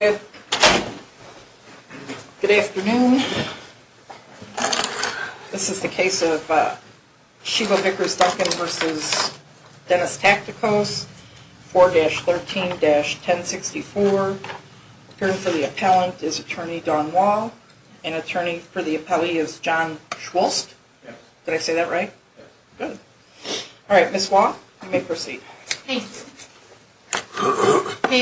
Good afternoon. This is the case of Sheva Vickers-Duncan v. Dennis Tactikos, 4-13-1064. Appearing for the appellant is Attorney Dawn Wall. And attorney for the appellee is John Schwulst. Did I say that right? Good. All right, Ms. Wall, you may proceed. May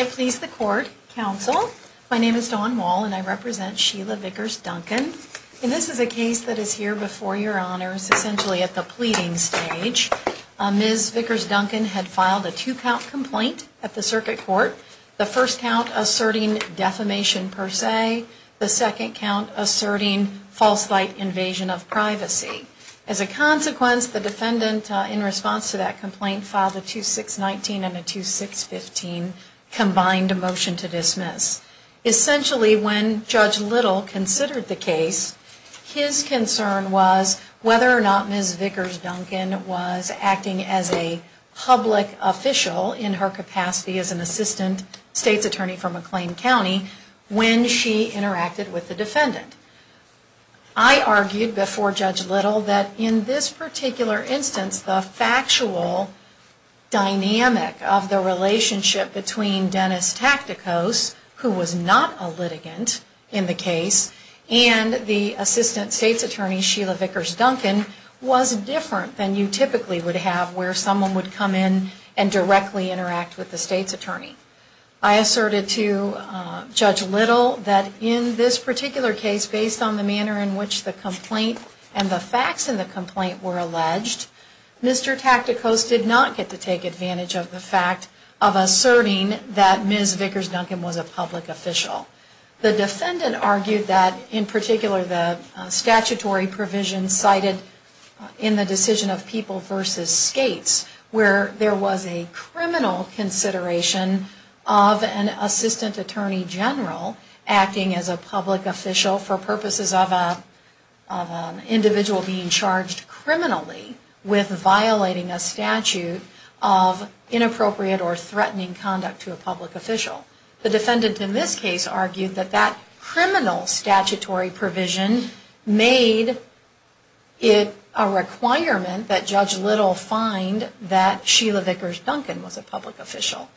it please the court, counsel, my name is Dawn Wall and I represent Sheva Vickers-Duncan. And this is a case that is here before your honors, essentially at the pleading stage. Ms. Vickers-Duncan had filed a two-count complaint at the circuit court. The first count asserting defamation per se. The second count asserting false light invasion of privacy. As a consequence, the defendant in response to that complaint filed a 2-6-19 and a 2-6-15 combined motion to dismiss. Essentially, when Judge Little considered the case, his concern was whether or not Ms. Vickers-Duncan was acting as a public official in her capacity as an assistant state's attorney for McLean County when she interacted with the defendant. I argued before Judge Little that in this particular instance, the factual dynamic of the relationship between Dennis Tacticos, who was not a litigant in the case, and the assistant state's attorney, Sheila Vickers-Duncan, was different than you typically would have where someone would come in and directly interact with the state's attorney. I asserted to Judge Little that in this particular case, based on the manner in which the complaint and the facts in the complaint were alleged, Mr. Tacticos did not get to take advantage of the fact of asserting that Ms. Vickers-Duncan was a public official. The defendant argued that in particular, the statutory provision cited in the decision of people versus states, where there was a criminal consideration of an assistant attorney general acting as a public official for purposes of an individual being charged criminally with violating a statute of inappropriate or threatening conduct to a public official. The defendant in this case argued that that criminal statutory provision made it a requirement that Judge Little find that Sheila Vickers-Duncan was a public official.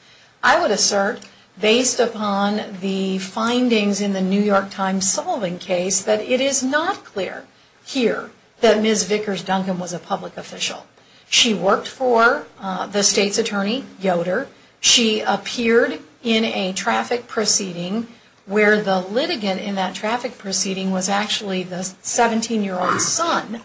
I would assert, based upon the findings in the New York Times Solving Case, that it is not clear here that Ms. Vickers-Duncan was a public official. She worked for the state's attorney, Yoder. She appeared in a traffic proceeding where the litigant in that traffic proceeding was actually the 17-year-old son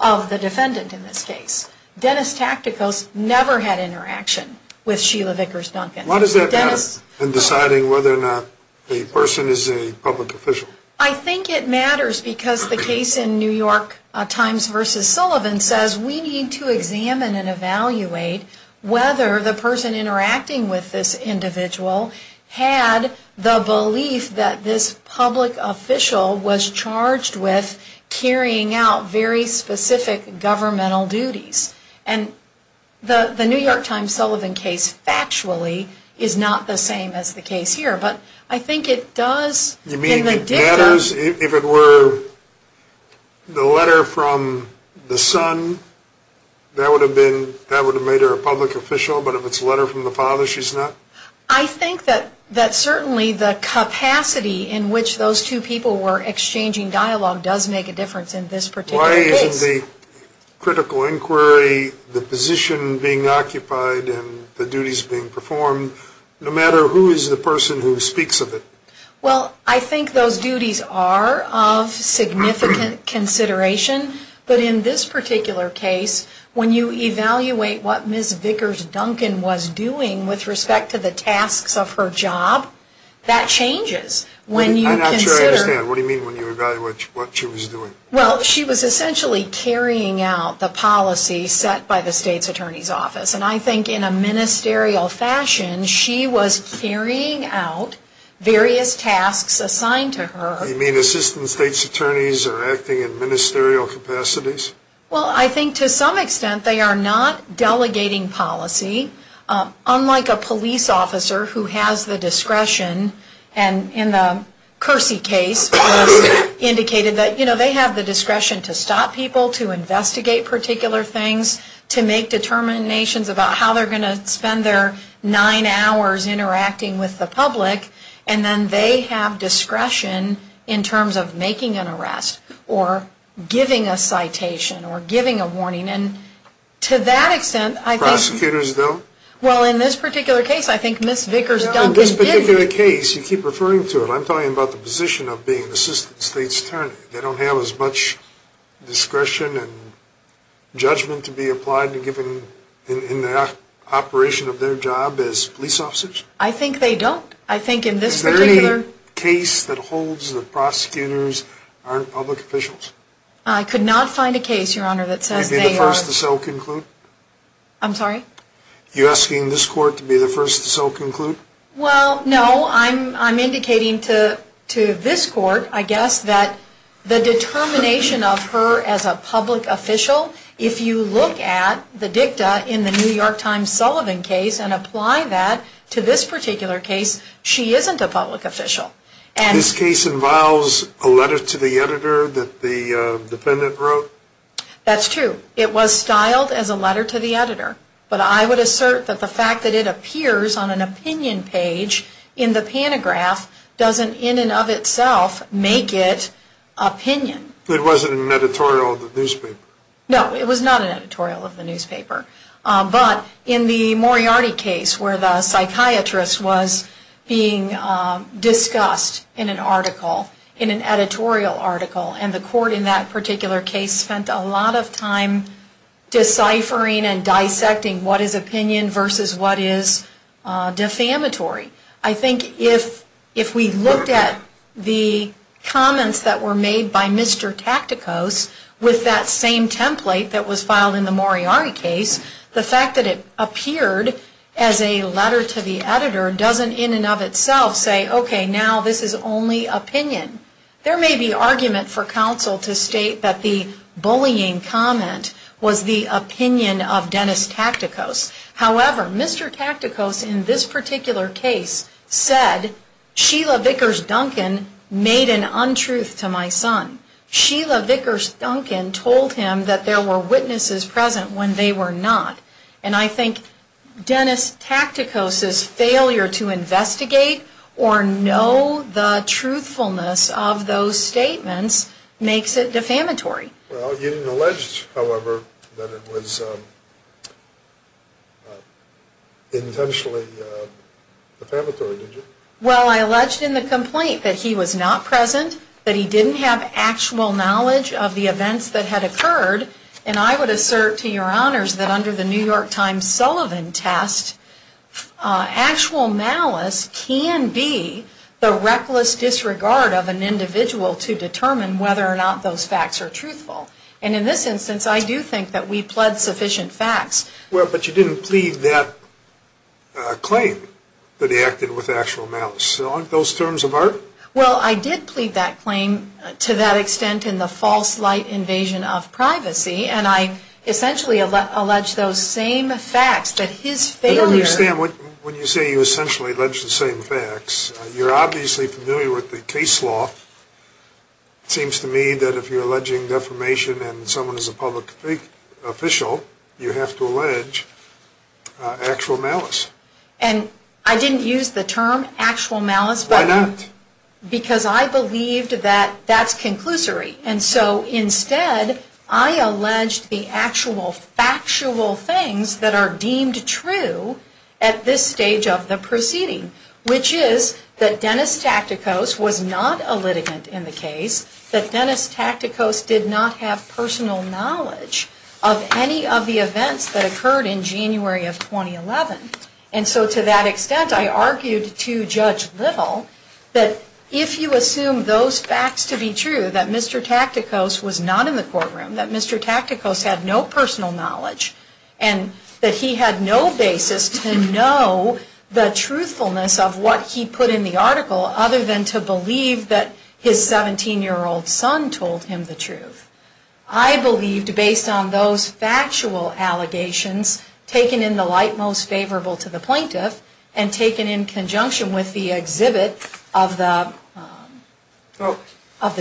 of the defendant in this case. Dennis Tacticos never had interaction with Sheila Vickers-Duncan. Why does that matter in deciding whether or not a person is a public official? I think it matters because the case in New York Times versus Sullivan says we need to examine and evaluate whether the person interacting with this individual had the belief that this public official was charged with carrying out very specific governmental duties. And the New York Times Sullivan case, factually, is not the same as the case here. But I think it does, in the dicta... You mean it matters if it were the letter from the son, that would have made her a public official? But if it's a letter from the father, she's not? I think that certainly the capacity in which those two people were exchanging dialogue does make a difference in this particular case. In terms of the critical inquiry, the position being occupied, and the duties being performed, no matter who is the person who speaks of it? Well, I think those duties are of significant consideration. But in this particular case, when you evaluate what Ms. Vickers-Duncan was doing with respect to the tasks of her job, that changes. I'm not sure I understand. What do you mean when you evaluate what she was doing? Well, she was essentially carrying out the policy set by the State's Attorney's Office. And I think in a ministerial fashion, she was carrying out various tasks assigned to her. You mean Assistant State's Attorneys are acting in ministerial capacities? Well, I think to some extent they are not delegating policy, unlike a police officer who has the discretion, and in the Kersey case was indicated that they have the discretion to stop people, to investigate particular things, to make determinations about how they're going to spend their nine hours interacting with the public. And then they have discretion in terms of making an arrest, or giving a citation, or giving a warning. And to that extent, I think... Prosecutors don't? Well, in this particular case, I think Ms. Vickers-Duncan did... In this particular case, you keep referring to it. I'm talking about the position of being Assistant State's Attorney. They don't have as much discretion and judgment to be applied in the operation of their job as police officers? I think they don't. I think in this particular... Is there any case that holds that prosecutors aren't public officials? I could not find a case, Your Honor, that says they are... You'd be the first to so conclude? I'm sorry? You're asking this court to be the first to so conclude? Well, no. I'm indicating to this court, I guess, that the determination of her as a public official, if you look at the dicta in the New York Times Sullivan case and apply that to this particular case, she isn't a public official. This case involves a letter to the editor that the defendant wrote? That's true. It was styled as a letter to the editor. But I would assert that the fact that it appears on an opinion page in the pantograph doesn't in and of itself make it opinion. It wasn't an editorial of the newspaper? No, it was not an editorial of the newspaper. But in the Moriarty case where the psychiatrist was being discussed in an article, in an editorial article, and the court in that particular case spent a lot of time deciphering and dissecting what is opinion versus what is defamatory. I think if we looked at the comments that were made by Mr. Tacticos with that same template that was filed in the Moriarty case, the fact that it appeared as a letter to the editor doesn't in and of itself say, okay, now this is only opinion. There may be argument for counsel to state that the bullying comment was the opinion of Dennis Tacticos. However, Mr. Tacticos in this particular case said, Sheila Vickers Duncan made an untruth to my son. Sheila Vickers Duncan told him that there were witnesses present when they were not. And I think Dennis Tacticos's failure to investigate or know the truthfulness of those statements makes it defamatory. Well, you didn't allege, however, that it was intentionally defamatory, did you? Well, I alleged in the complaint that he was not present, that he didn't have actual knowledge of the events that had occurred. And I would assert to your honors that under the New York Times Sullivan test, actual malice can be the reckless disregard of an individual to determine whether or not those facts are truthful. And in this instance, I do think that we pled sufficient facts. Well, but you didn't plead that claim that he acted with actual malice. Aren't those terms of art? Well, I did plead that claim to that extent in the false light invasion of privacy. And I essentially allege those same facts that his failure. I don't understand when you say you essentially allege the same facts. You're obviously familiar with the case law. It seems to me that if you're alleging defamation and someone is a public official, you have to allege actual malice. And I didn't use the term actual malice. Why not? Because I believed that that's conclusory. And so instead, I alleged the actual factual things that are deemed true at this stage of the proceeding, which is that Dennis Tacticos was not a litigant in the case, that Dennis Tacticos did not have personal knowledge of any of the events that occurred in January of 2011. And so to that extent, I argued to Judge Little that if you assume those facts to be true, that Mr. Tacticos was not in the courtroom, that Mr. Tacticos had no personal knowledge, and that he had no basis to know the truthfulness of what he put in the article, other than to believe that his 17-year-old son told him the truth. I believed, based on those factual allegations, taken in the light most favorable to the plaintiff, and taken in conjunction with the exhibit of the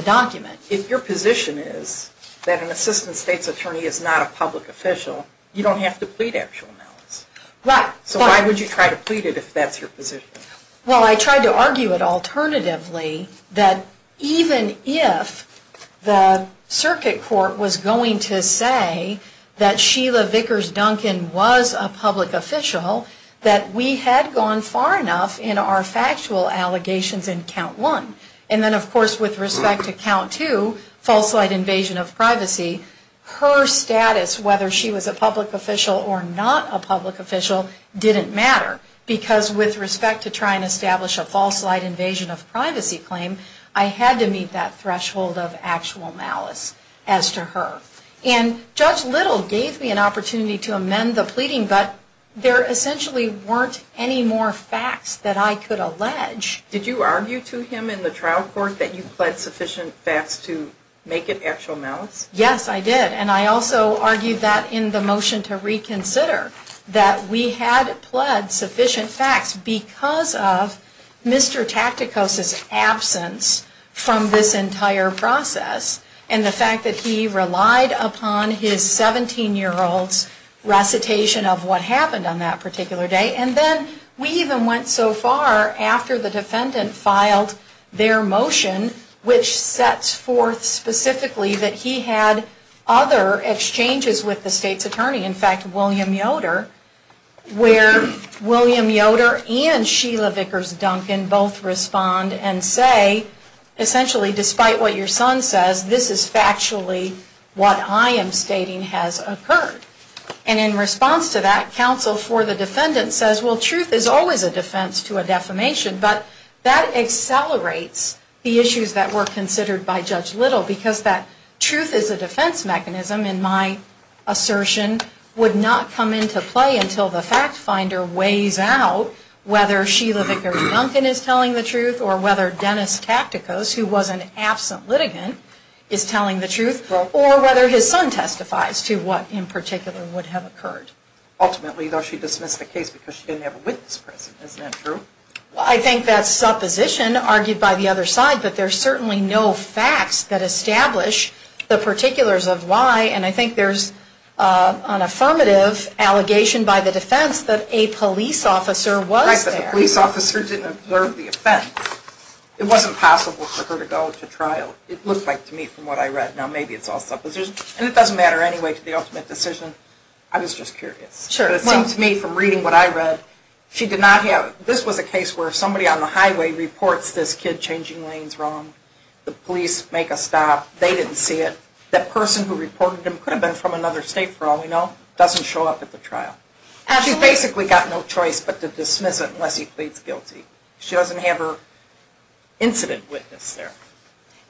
document. If your position is that an assistant state's attorney is not a public official, you don't have to plead actual malice. Right. So why would you try to plead it if that's your position? Well, I tried to argue it alternatively, that even if the circuit court was going to say that Sheila Vickers Duncan was a public official, that we had gone far enough in our factual allegations in count one. And then, of course, with respect to count two, false light invasion of privacy, her status, whether she was a public official or not a public official, didn't matter. Because with respect to trying to establish a false light invasion of privacy claim, I had to meet that threshold of actual malice as to her. And Judge Little gave me an opportunity to amend the pleading, but there essentially weren't any more facts that I could allege. Did you argue to him in the trial court that you pled sufficient facts to make it actual malice? Yes, I did. And I also argued that in the motion to reconsider that we had pled sufficient facts because of Mr. Tacticos' absence from this entire process and the fact that he relied upon his 17-year-old's recitation of what happened on that particular day. And then we even went so far after the defendant filed their motion, which sets forth specifically that he had other exchanges with the state's attorney, in fact, William Yoder, where William Yoder and Sheila Vickers Duncan both respond and say, essentially, despite what your son says, this is factually what I am stating has occurred. And in response to that, counsel for the defendant says, well, truth is always a defense to a defamation, but that accelerates the issues that were considered by Judge Little because that truth is a defense mechanism, in my assertion, would not come into play until the fact finder weighs out whether Sheila Vickers Duncan is telling the truth or whether Dennis Tacticos, who was an absent litigant, is telling the truth, or whether his son testifies to what in particular would have occurred. Ultimately, though, she dismissed the case because she didn't have a witness present. Isn't that true? Well, I think that supposition argued by the other side, but there's certainly no facts that establish the particulars of why, and I think there's an affirmative allegation by the defense that a police officer was there. Right, that a police officer didn't observe the offense. It wasn't possible for her to go to trial. It looked like to me, from what I read, now maybe it's all supposition, and it doesn't matter anyway to the ultimate decision. I was just curious. Sure. But it seemed to me from reading what I read, she did not have, this was a case where somebody on the highway reports this kid changing lanes wrong, the police make a stop, they didn't see it, that person who reported him could have been from another state for all we know, doesn't show up at the trial. Absolutely. She basically got no choice but to dismiss it unless he pleads guilty. She doesn't have her incident witness there.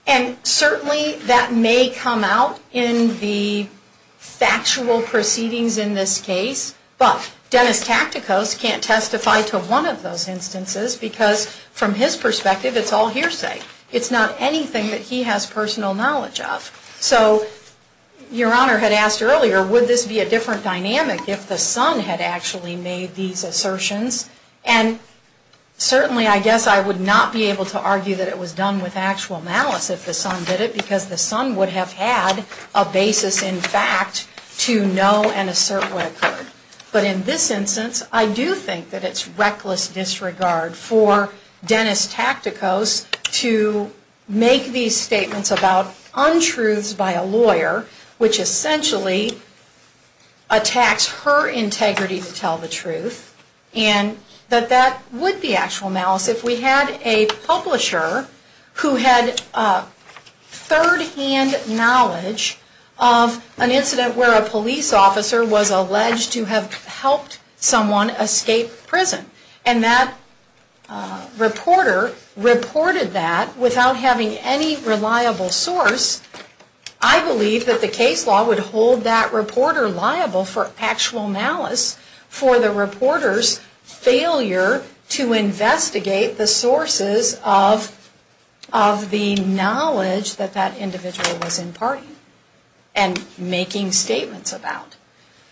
And certainly that may come out in the factual proceedings in this case, but Dennis Tacticos can't testify to one of those instances because from his perspective it's all hearsay. It's not anything that he has personal knowledge of. So your Honor had asked earlier, would this be a different dynamic if the son had actually made these assertions, and certainly I guess I would not be able to argue that it was done with actual malice if the son did it because the son would have had a basis in fact to know and assert what occurred. But in this instance I do think that it's reckless disregard for Dennis Tacticos to make these statements about untruths by a lawyer, which essentially attacks her integrity to tell the truth, and that that would be actual malice. If we had a publisher who had third-hand knowledge of an incident where a police officer was alleged to have helped someone escape prison, and that reporter reported that without having any reliable source, I believe that the case law would hold that reporter liable for actual malice for the reporter's failure to investigate the sources of the knowledge that that individual was imparting and making statements about.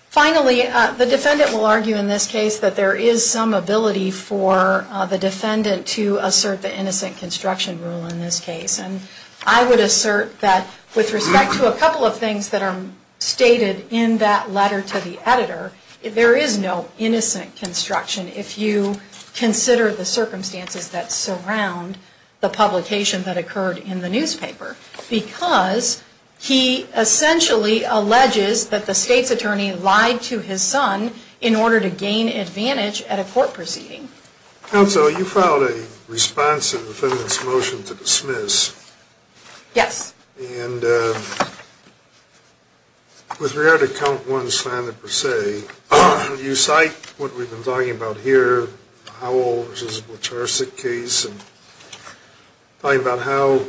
Finally, the defendant will argue in this case that there is some ability for the defendant to assert the innocent construction rule in this case, and I would assert that with respect to a couple of things that are stated in that letter to the editor, there is no innocent construction if you consider the circumstances that surround the publication that occurred in the newspaper because he essentially alleges that the state's attorney lied to his son in order to gain advantage at a court proceeding. Counsel, you filed a response to the defendant's motion to dismiss. Yes. And with regard to count one's standard per se, you cite what we've been talking about here, Howell v. Blachar's case, and talking about how,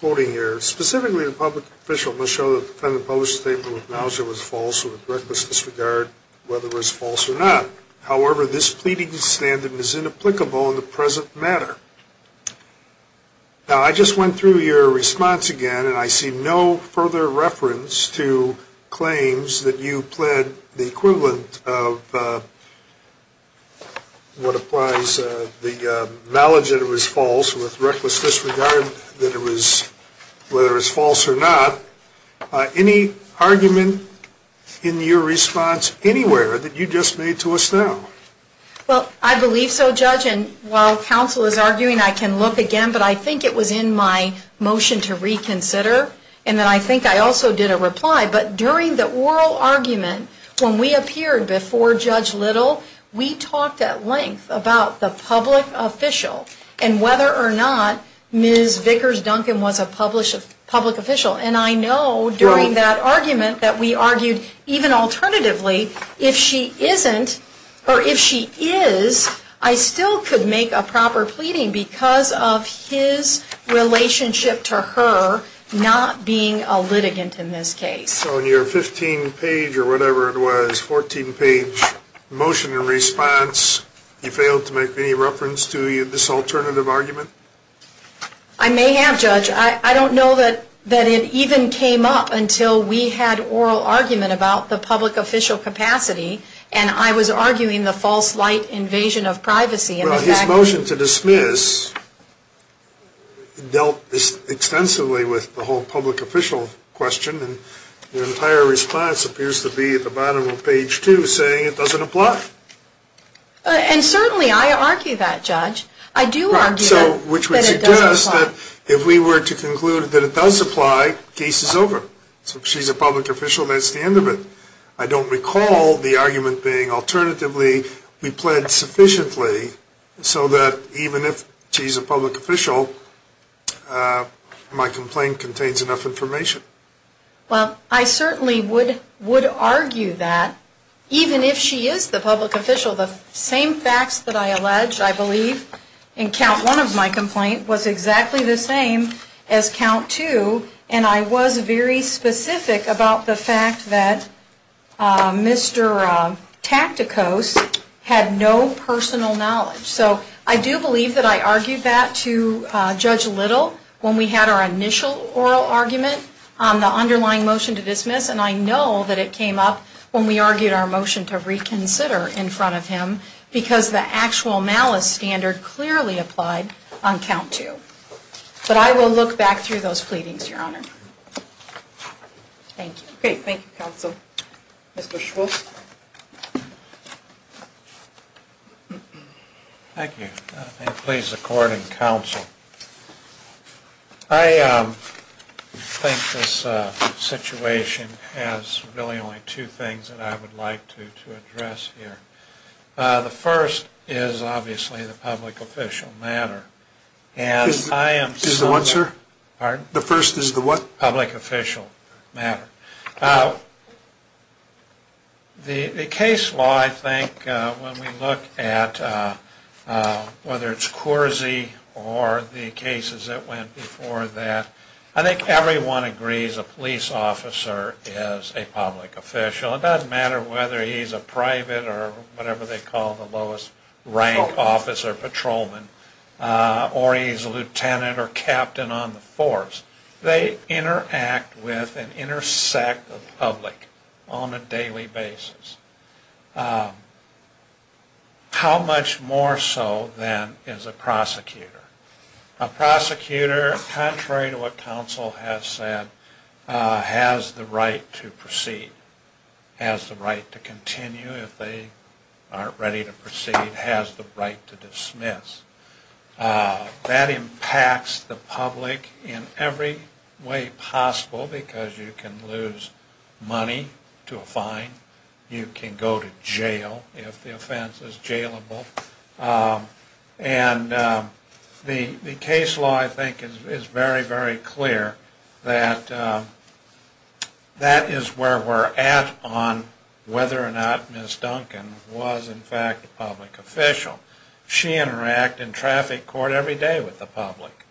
quoting here, specifically the public official must show that the defendant published a statement that acknowledged it was false with reckless disregard whether it was false or not. However, this pleading standard is inapplicable in the present matter. Now, I just went through your response again, and I see no further reference to claims that you pled the equivalent of what applies to the knowledge that it was false with reckless disregard whether it was false or not. Any argument in your response anywhere that you just made to us now? Well, I believe so, Judge. And while counsel is arguing, I can look again. But I think it was in my motion to reconsider, and then I think I also did a reply. But during the oral argument, when we appeared before Judge Little, we talked at length about the public official and whether or not Ms. Vickers-Duncan was a public official. And I know during that argument that we argued, even alternatively, that if she isn't or if she is, I still could make a proper pleading because of his relationship to her not being a litigant in this case. So in your 15-page or whatever it was, 14-page motion in response, you failed to make any reference to this alternative argument? I may have, Judge. I don't know that it even came up until we had oral argument about the public official capacity, and I was arguing the false light invasion of privacy. Well, his motion to dismiss dealt extensively with the whole public official question, and your entire response appears to be at the bottom of page 2 saying it doesn't apply. And certainly I argue that, Judge. I do argue that it doesn't apply. Which would suggest that if we were to conclude that it does apply, case is over. So if she's a public official, that's the end of it. I don't recall the argument being alternatively, we plead sufficiently so that even if she's a public official, my complaint contains enough information. Well, I certainly would argue that even if she is the public official, the same facts that I allege, I believe, in count 1 of my complaint was exactly the same as count 2, and I was very specific about the fact that Mr. Tacticos had no personal knowledge. So I do believe that I argued that to Judge Little when we had our initial oral argument on the underlying motion to dismiss, and I know that it came up when we argued our motion to reconsider in front of him because the actual malice standard clearly applied on count 2. But I will look back through those pleadings, Your Honor. Thank you. Great. Thank you, Counsel. Mr. Schwartz. Thank you. And please, according to counsel, I think this situation has really only two things that I would like to address here. The first is obviously the public official matter. Is the what, sir? Pardon? The first is the what? Public official matter. Okay. The case law, I think, when we look at whether it's Coursey or the cases that went before that, I think everyone agrees a police officer is a public official. It doesn't matter whether he's a private or whatever they call the lowest rank officer, patrolman, or he's a lieutenant or captain on the force. They interact with and intersect the public on a daily basis. How much more so than is a prosecutor? A prosecutor, contrary to what counsel has said, has the right to proceed, has the right to continue if they aren't ready to proceed, has the right to dismiss. That impacts the public in every way possible because you can lose money to a fine. You can go to jail if the offense is jailable. And the case law, I think, is very, very clear that that is where we're at on whether or not Ms. Duncan was, in fact, a public official. She interacted in traffic court every day with the public.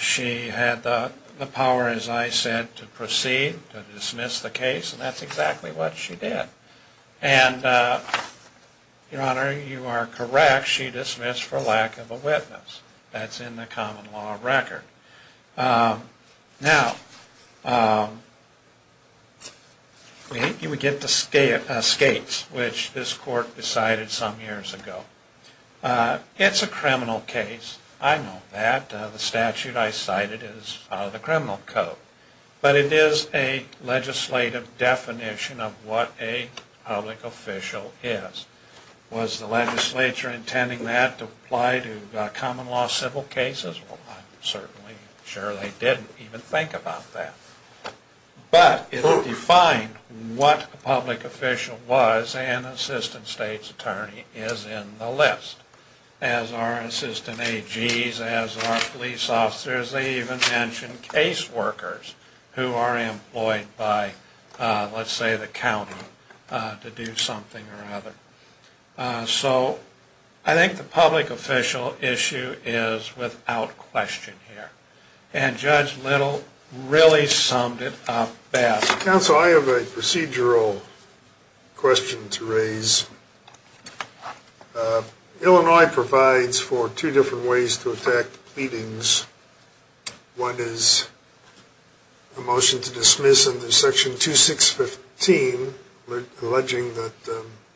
She had the power, as I said, to proceed, to dismiss the case, and that's exactly what she did. And, Your Honor, you are correct. She dismissed for lack of a witness. That's in the common law record. Now, we get to skates, which this court decided some years ago. It's a criminal case. I know that. The statute I cited is out of the criminal code. But it is a legislative definition of what a public official is. Was the legislature intending that to apply to common law civil cases? Well, I'm certainly sure they didn't even think about that. But it defined what a public official was, and an assistant state's attorney is in the list, as are assistant AGs, as are police officers. They even mention case workers who are employed by, let's say, the county to do something or other. So I think the public official issue is without question here. And Judge Little really summed it up badly. Counsel, I have a procedural question to raise. Illinois provides for two different ways to attack pleadings. One is a motion to dismiss under Section 2615, alleging that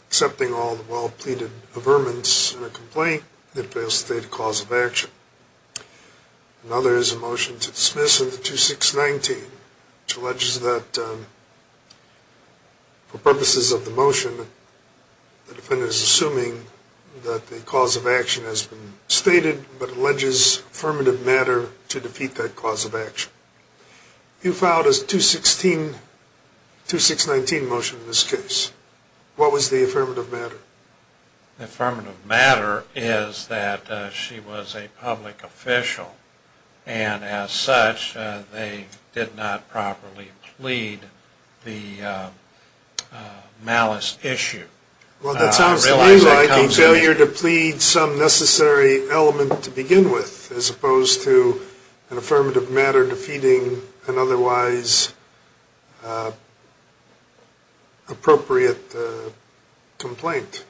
accepting all the well-pleaded averments in a complaint, it fails to state a cause of action. Another is a motion to dismiss under 2619, which alleges that for purposes of the motion, the defendant is assuming that the cause of action has been stated, but alleges affirmative matter to defeat that cause of action. You filed a 2619 motion in this case. What was the affirmative matter? The affirmative matter is that she was a public official, and as such, they did not properly plead the malice issue. Well, that sounds to me like a failure to plead some necessary element to begin with, as opposed to an affirmative matter defeating an otherwise appropriate complaint.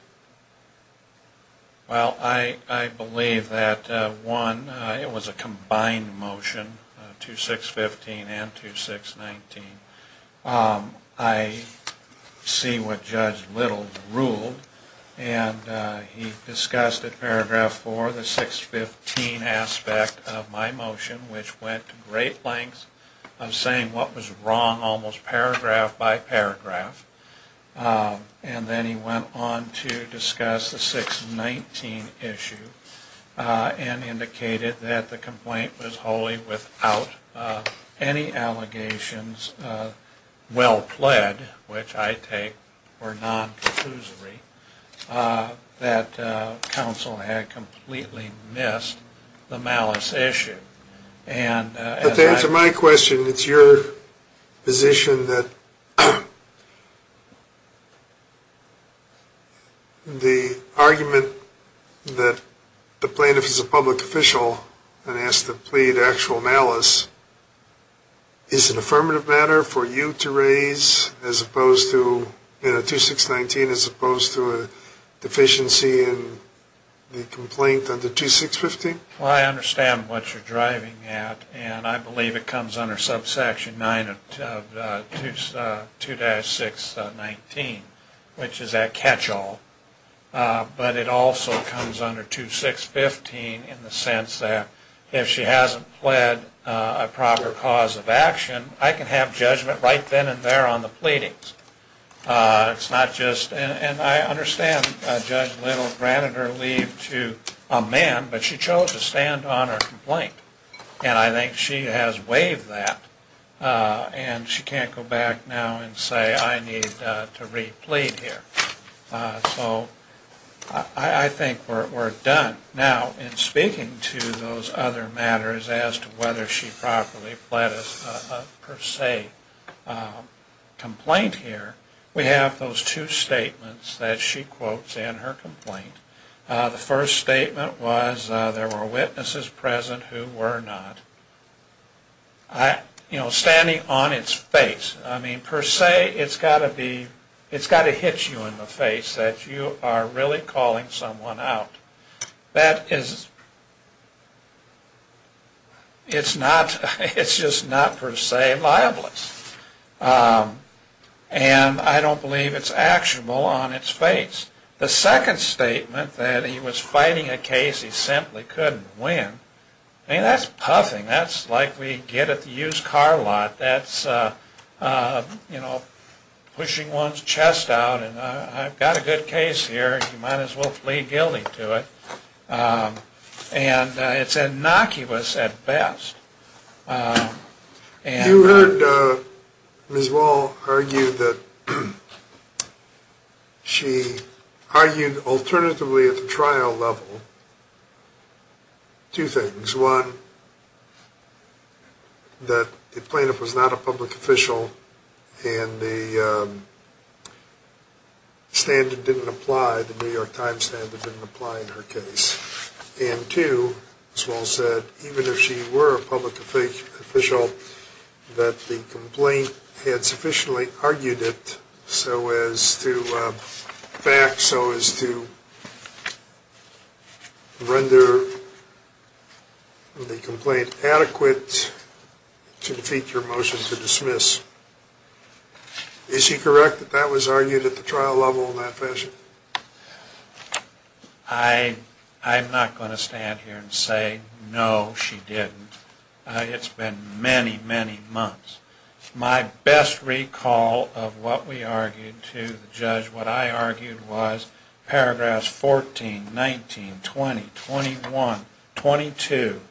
Well, I believe that, one, it was a combined motion, 2615 and 2619. I see what Judge Little ruled, and he discussed at paragraph four the 615 aspect of my motion, which went to great lengths of saying what was wrong almost paragraph by paragraph. And then he went on to discuss the 619 issue and indicated that the complaint was wholly without any allegations of well-pled, which I take were non-conclusory, that counsel had completely missed the malice issue. But to answer my question, it's your position that the argument that the plaintiff is a public official and has to plead actual malice is an affirmative matter for you to raise as opposed to 2619 as opposed to a deficiency in the complaint under 2615? Well, I understand what you're driving at, and I believe it comes under subsection 9 of 2-619, which is that catch-all, but it also comes under 2615 in the sense that if she hasn't pled a proper cause of action, I can have judgment right then and there on the pleadings. It's not just, and I understand Judge Little granted her leave to amend, but she chose to stand on her complaint, and I think she has waived that, and she can't go back now and say I need to re-plead here. So I think we're done. Now, in speaking to those other matters as to whether she properly pled a per se complaint here, we have those two statements that she quotes in her complaint. The first statement was there were witnesses present who were not. You know, standing on its face, I mean, per se, it's got to hit you in the face that you are really calling someone out. That is, it's not, it's just not per se libelous, and I don't believe it's actionable on its face. The second statement that he was fighting a case he simply couldn't win, I mean, that's puffing. That's like we get at the used car lot. That's, you know, pushing one's chest out, and I've got a good case here. You might as well plead guilty to it, and it's innocuous at best. You heard Ms. Wall argue that she argued alternatively at the trial level two things. One, that the plaintiff was not a public official, and the standard didn't apply, the New York Times standard didn't apply in her case. And two, as Wall said, even if she were a public official, that the complaint had sufficiently argued it so as to back, so as to render the complaint adequate to defeat your motion to dismiss. Is she correct that that was argued at the trial level in that fashion? I'm not going to stand here and say no, she didn't. It's been many, many months. My best recall of what we argued to the judge, what I argued, was paragraphs 14, 19, 20, 21, 22,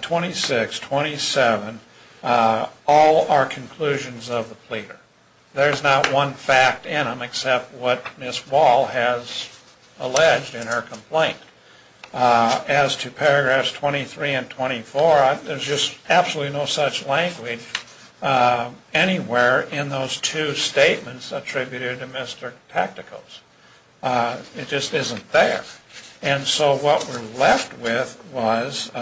26, 27, all are conclusions of the pleader. There's not one fact in them except what Ms. Wall has alleged in her complaint. As to paragraphs 23 and 24, there's just absolutely no such language anywhere in those two statements attributed to Mr. Tacticos. It just isn't there. And so what we're left with was,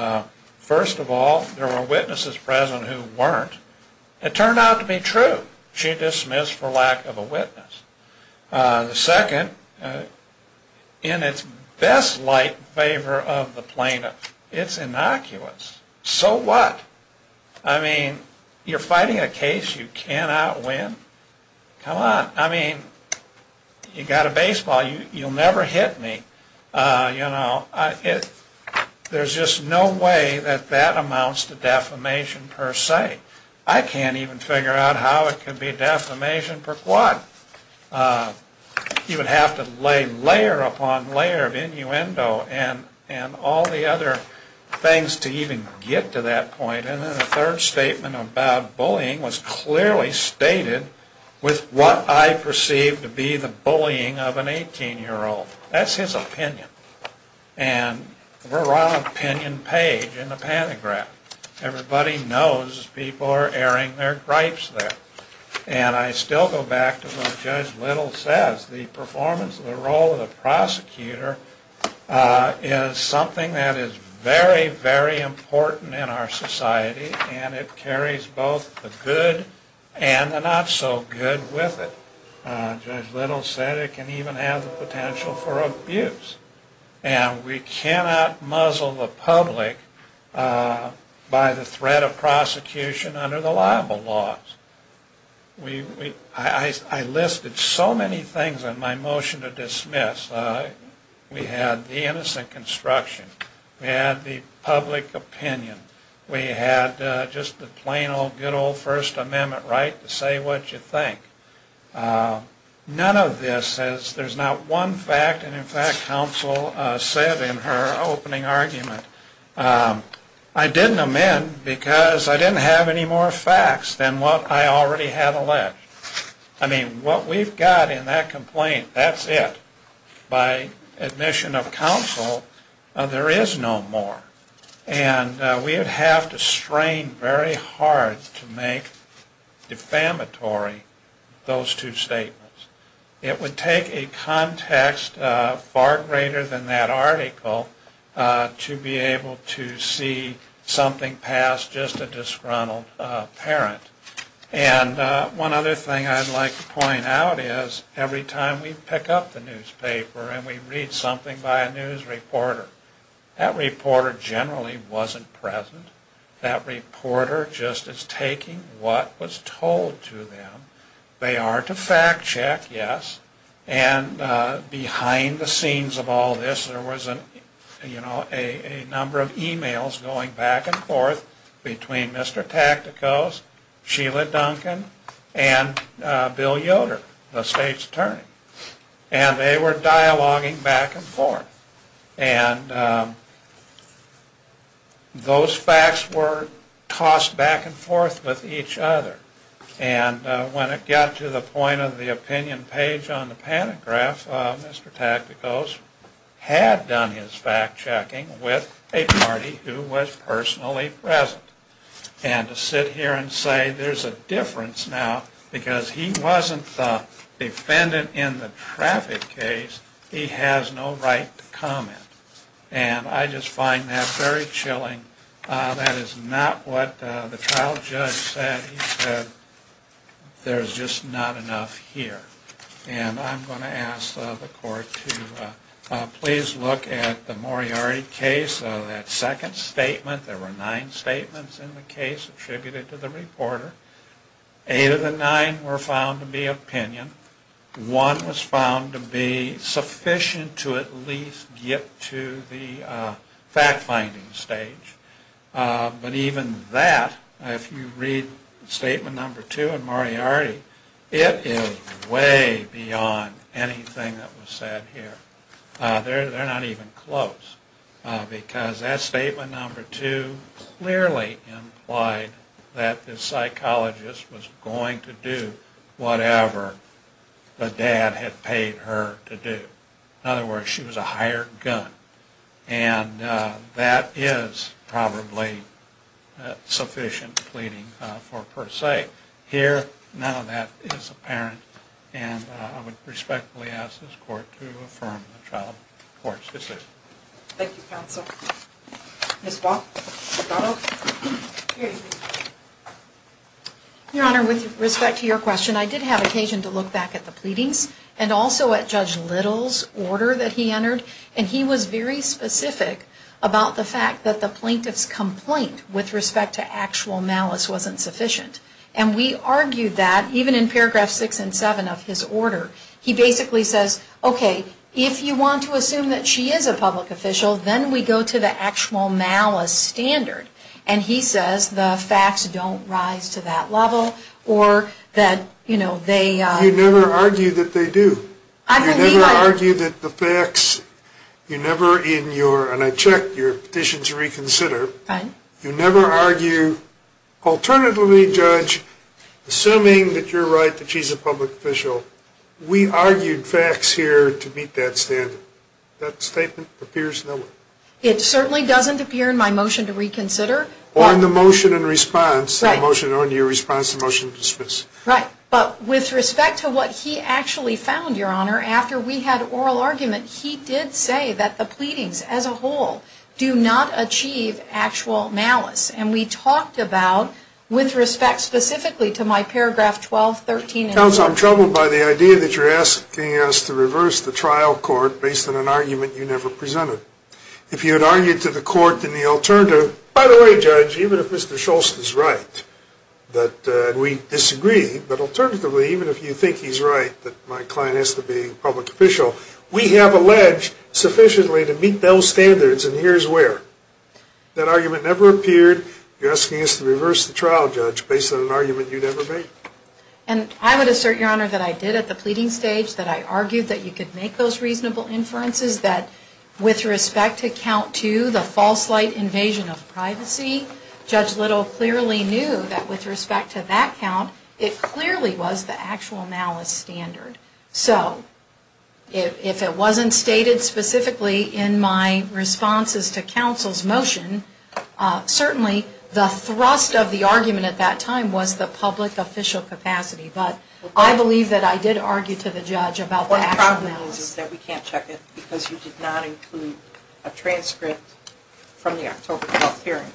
first of all, there were witnesses present who weren't. It turned out to be true. She dismissed for lack of a witness. The second, in its best light in favor of the plaintiff, it's innocuous. So what? I mean, you're fighting a case you cannot win? Come on. I mean, you've got a baseball, you'll never hit me. There's just no way that that amounts to defamation per se. I can't even figure out how it can be defamation per quad. You would have to lay layer upon layer of innuendo and all the other things to even get to that point. And then the third statement about bullying was clearly stated with what I perceive to be the bullying of an 18-year-old. That's his opinion. And we're on an opinion page in the pantograph. Everybody knows people are airing their gripes there. And I still go back to what Judge Little says. The performance of the role of the prosecutor is something that is very, very important in our society, and it carries both the good and the not-so-good with it. Judge Little said it can even have the potential for abuse. And we cannot muzzle the public by the threat of prosecution under the libel laws. I listed so many things in my motion to dismiss. We had the innocent construction. We had the public opinion. We had just the plain old good old First Amendment right to say what you think. None of this says there's not one fact. And, in fact, counsel said in her opening argument, I didn't amend because I didn't have any more facts than what I already had alleged. I mean, what we've got in that complaint, that's it. By admission of counsel, there is no more. And we would have to strain very hard to make defamatory those two statements. It would take a context far greater than that article to be able to see something past just a disgruntled parent. And one other thing I'd like to point out is every time we pick up the newspaper and we read something by a news reporter, that reporter generally wasn't present. That reporter just is taking what was told to them. They are to fact check, yes. And behind the scenes of all this, there was a number of e-mails going back and forth between Mr. Tacticos, Sheila Duncan, and Bill Yoder, the state's attorney. And they were dialoguing back and forth. And those facts were tossed back and forth with each other. And when it got to the point of the opinion page on the panic graph, Mr. Tacticos had done his fact checking with a party who was personally present. And to sit here and say there's a difference now because he wasn't the defendant in the traffic case, he has no right to comment. And I just find that very chilling. That is not what the trial judge said. He said there's just not enough here. And I'm going to ask the court to please look at the Moriarty case. That second statement, there were nine statements in the case attributed to the reporter. Eight of the nine were found to be opinion. One was found to be sufficient to at least get to the fact-finding stage. But even that, if you read statement number two in Moriarty, it is way beyond anything that was said here. They're not even close. Because that statement number two clearly implied that the psychologist was going to do whatever the dad had paid her to do. In other words, she was a hired gun. And that is probably sufficient pleading for per se. Here, none of that is apparent. And I would respectfully ask this court to affirm the trial court's decision. Thank you, counsel. Ms. Watt? Here you go. Your Honor, with respect to your question, I did have occasion to look back at the pleadings and also at Judge Little's order that he entered. And he was very specific about the fact that the plaintiff's complaint with respect to actual malice wasn't sufficient. And we argued that, even in paragraph six and seven of his order. He basically says, okay, if you want to assume that she is a public official, then we go to the actual malice standard. And he says the facts don't rise to that level or that, you know, they... You never argue that they do. I believe I... You never argue that the facts... You never, in your, and I checked your petition to reconsider... Right. You never argue, alternatively, Judge, assuming that you're right that she's a public official, we argued facts here to meet that standard. That statement appears nowhere. It certainly doesn't appear in my motion to reconsider. Or in the motion in response. Right. The motion in response to your motion to dismiss. Right. But with respect to what he actually found, Your Honor, after we had oral argument, he did say that the pleadings as a whole do not achieve actual malice. And we talked about, with respect specifically to my paragraph 12, 13... Counsel, I'm troubled by the idea that you're asking us to reverse the trial court based on an argument you never presented. If you had argued to the court in the alternative... By the way, Judge, even if Mr. Scholz is right that we disagree, but alternatively, even if you think he's right that my client has to be public official, we have alleged sufficiently to meet those standards, and here's where. That argument never appeared. You're asking us to reverse the trial, Judge, based on an argument you never made. And I would assert, Your Honor, that I did at the pleading stage, that I argued that you could make those reasonable inferences, that with respect to count two, the false light invasion of privacy, Judge Little clearly knew that with respect to that count, it clearly was the actual malice standard. So, if it wasn't stated specifically in my responses to counsel's motion, certainly the thrust of the argument at that time was the public official capacity. But I believe that I did argue to the judge about the actual malice. What the problem is, is that we can't check it because you did not include a transcript from the October 12th hearing.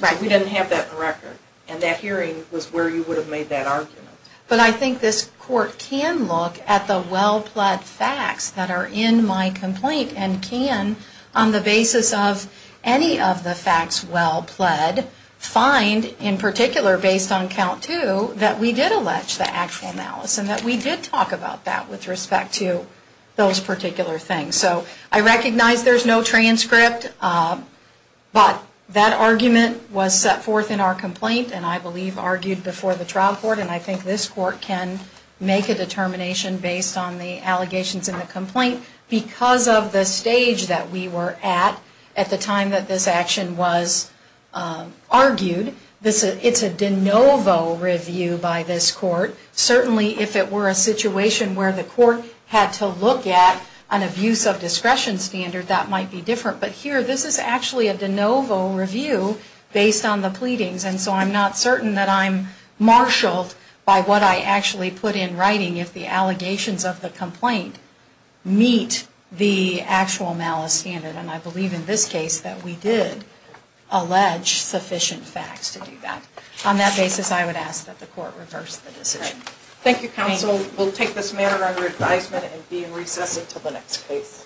Right. We didn't have that in the record. And that hearing was where you would have made that argument. But I think this court can look at the well-pled facts that are in my complaint and can, on the basis of any of the facts well-pled, find, in particular based on count two, that we did allege the actual malice and that we did talk about that with respect to those particular things. So, I recognize there's no transcript, but that argument was set forth in our complaint and I believe argued before the trial court. And I think this court can make a determination based on the allegations in the complaint. Because of the stage that we were at at the time that this action was argued, it's a de novo review by this court. Certainly, if it were a situation where the court had to look at an abuse of discretion standard, that might be different. But here, this is actually a de novo review based on the pleadings. And so, I'm not certain that I'm marshaled by what I actually put in writing if the allegations of the complaint meet the actual malice standard. And I believe in this case that we did allege sufficient facts to do that. On that basis, I would ask that the court reverse the decision. Thank you, counsel. We'll take this matter under advisement and be in recess until the next case.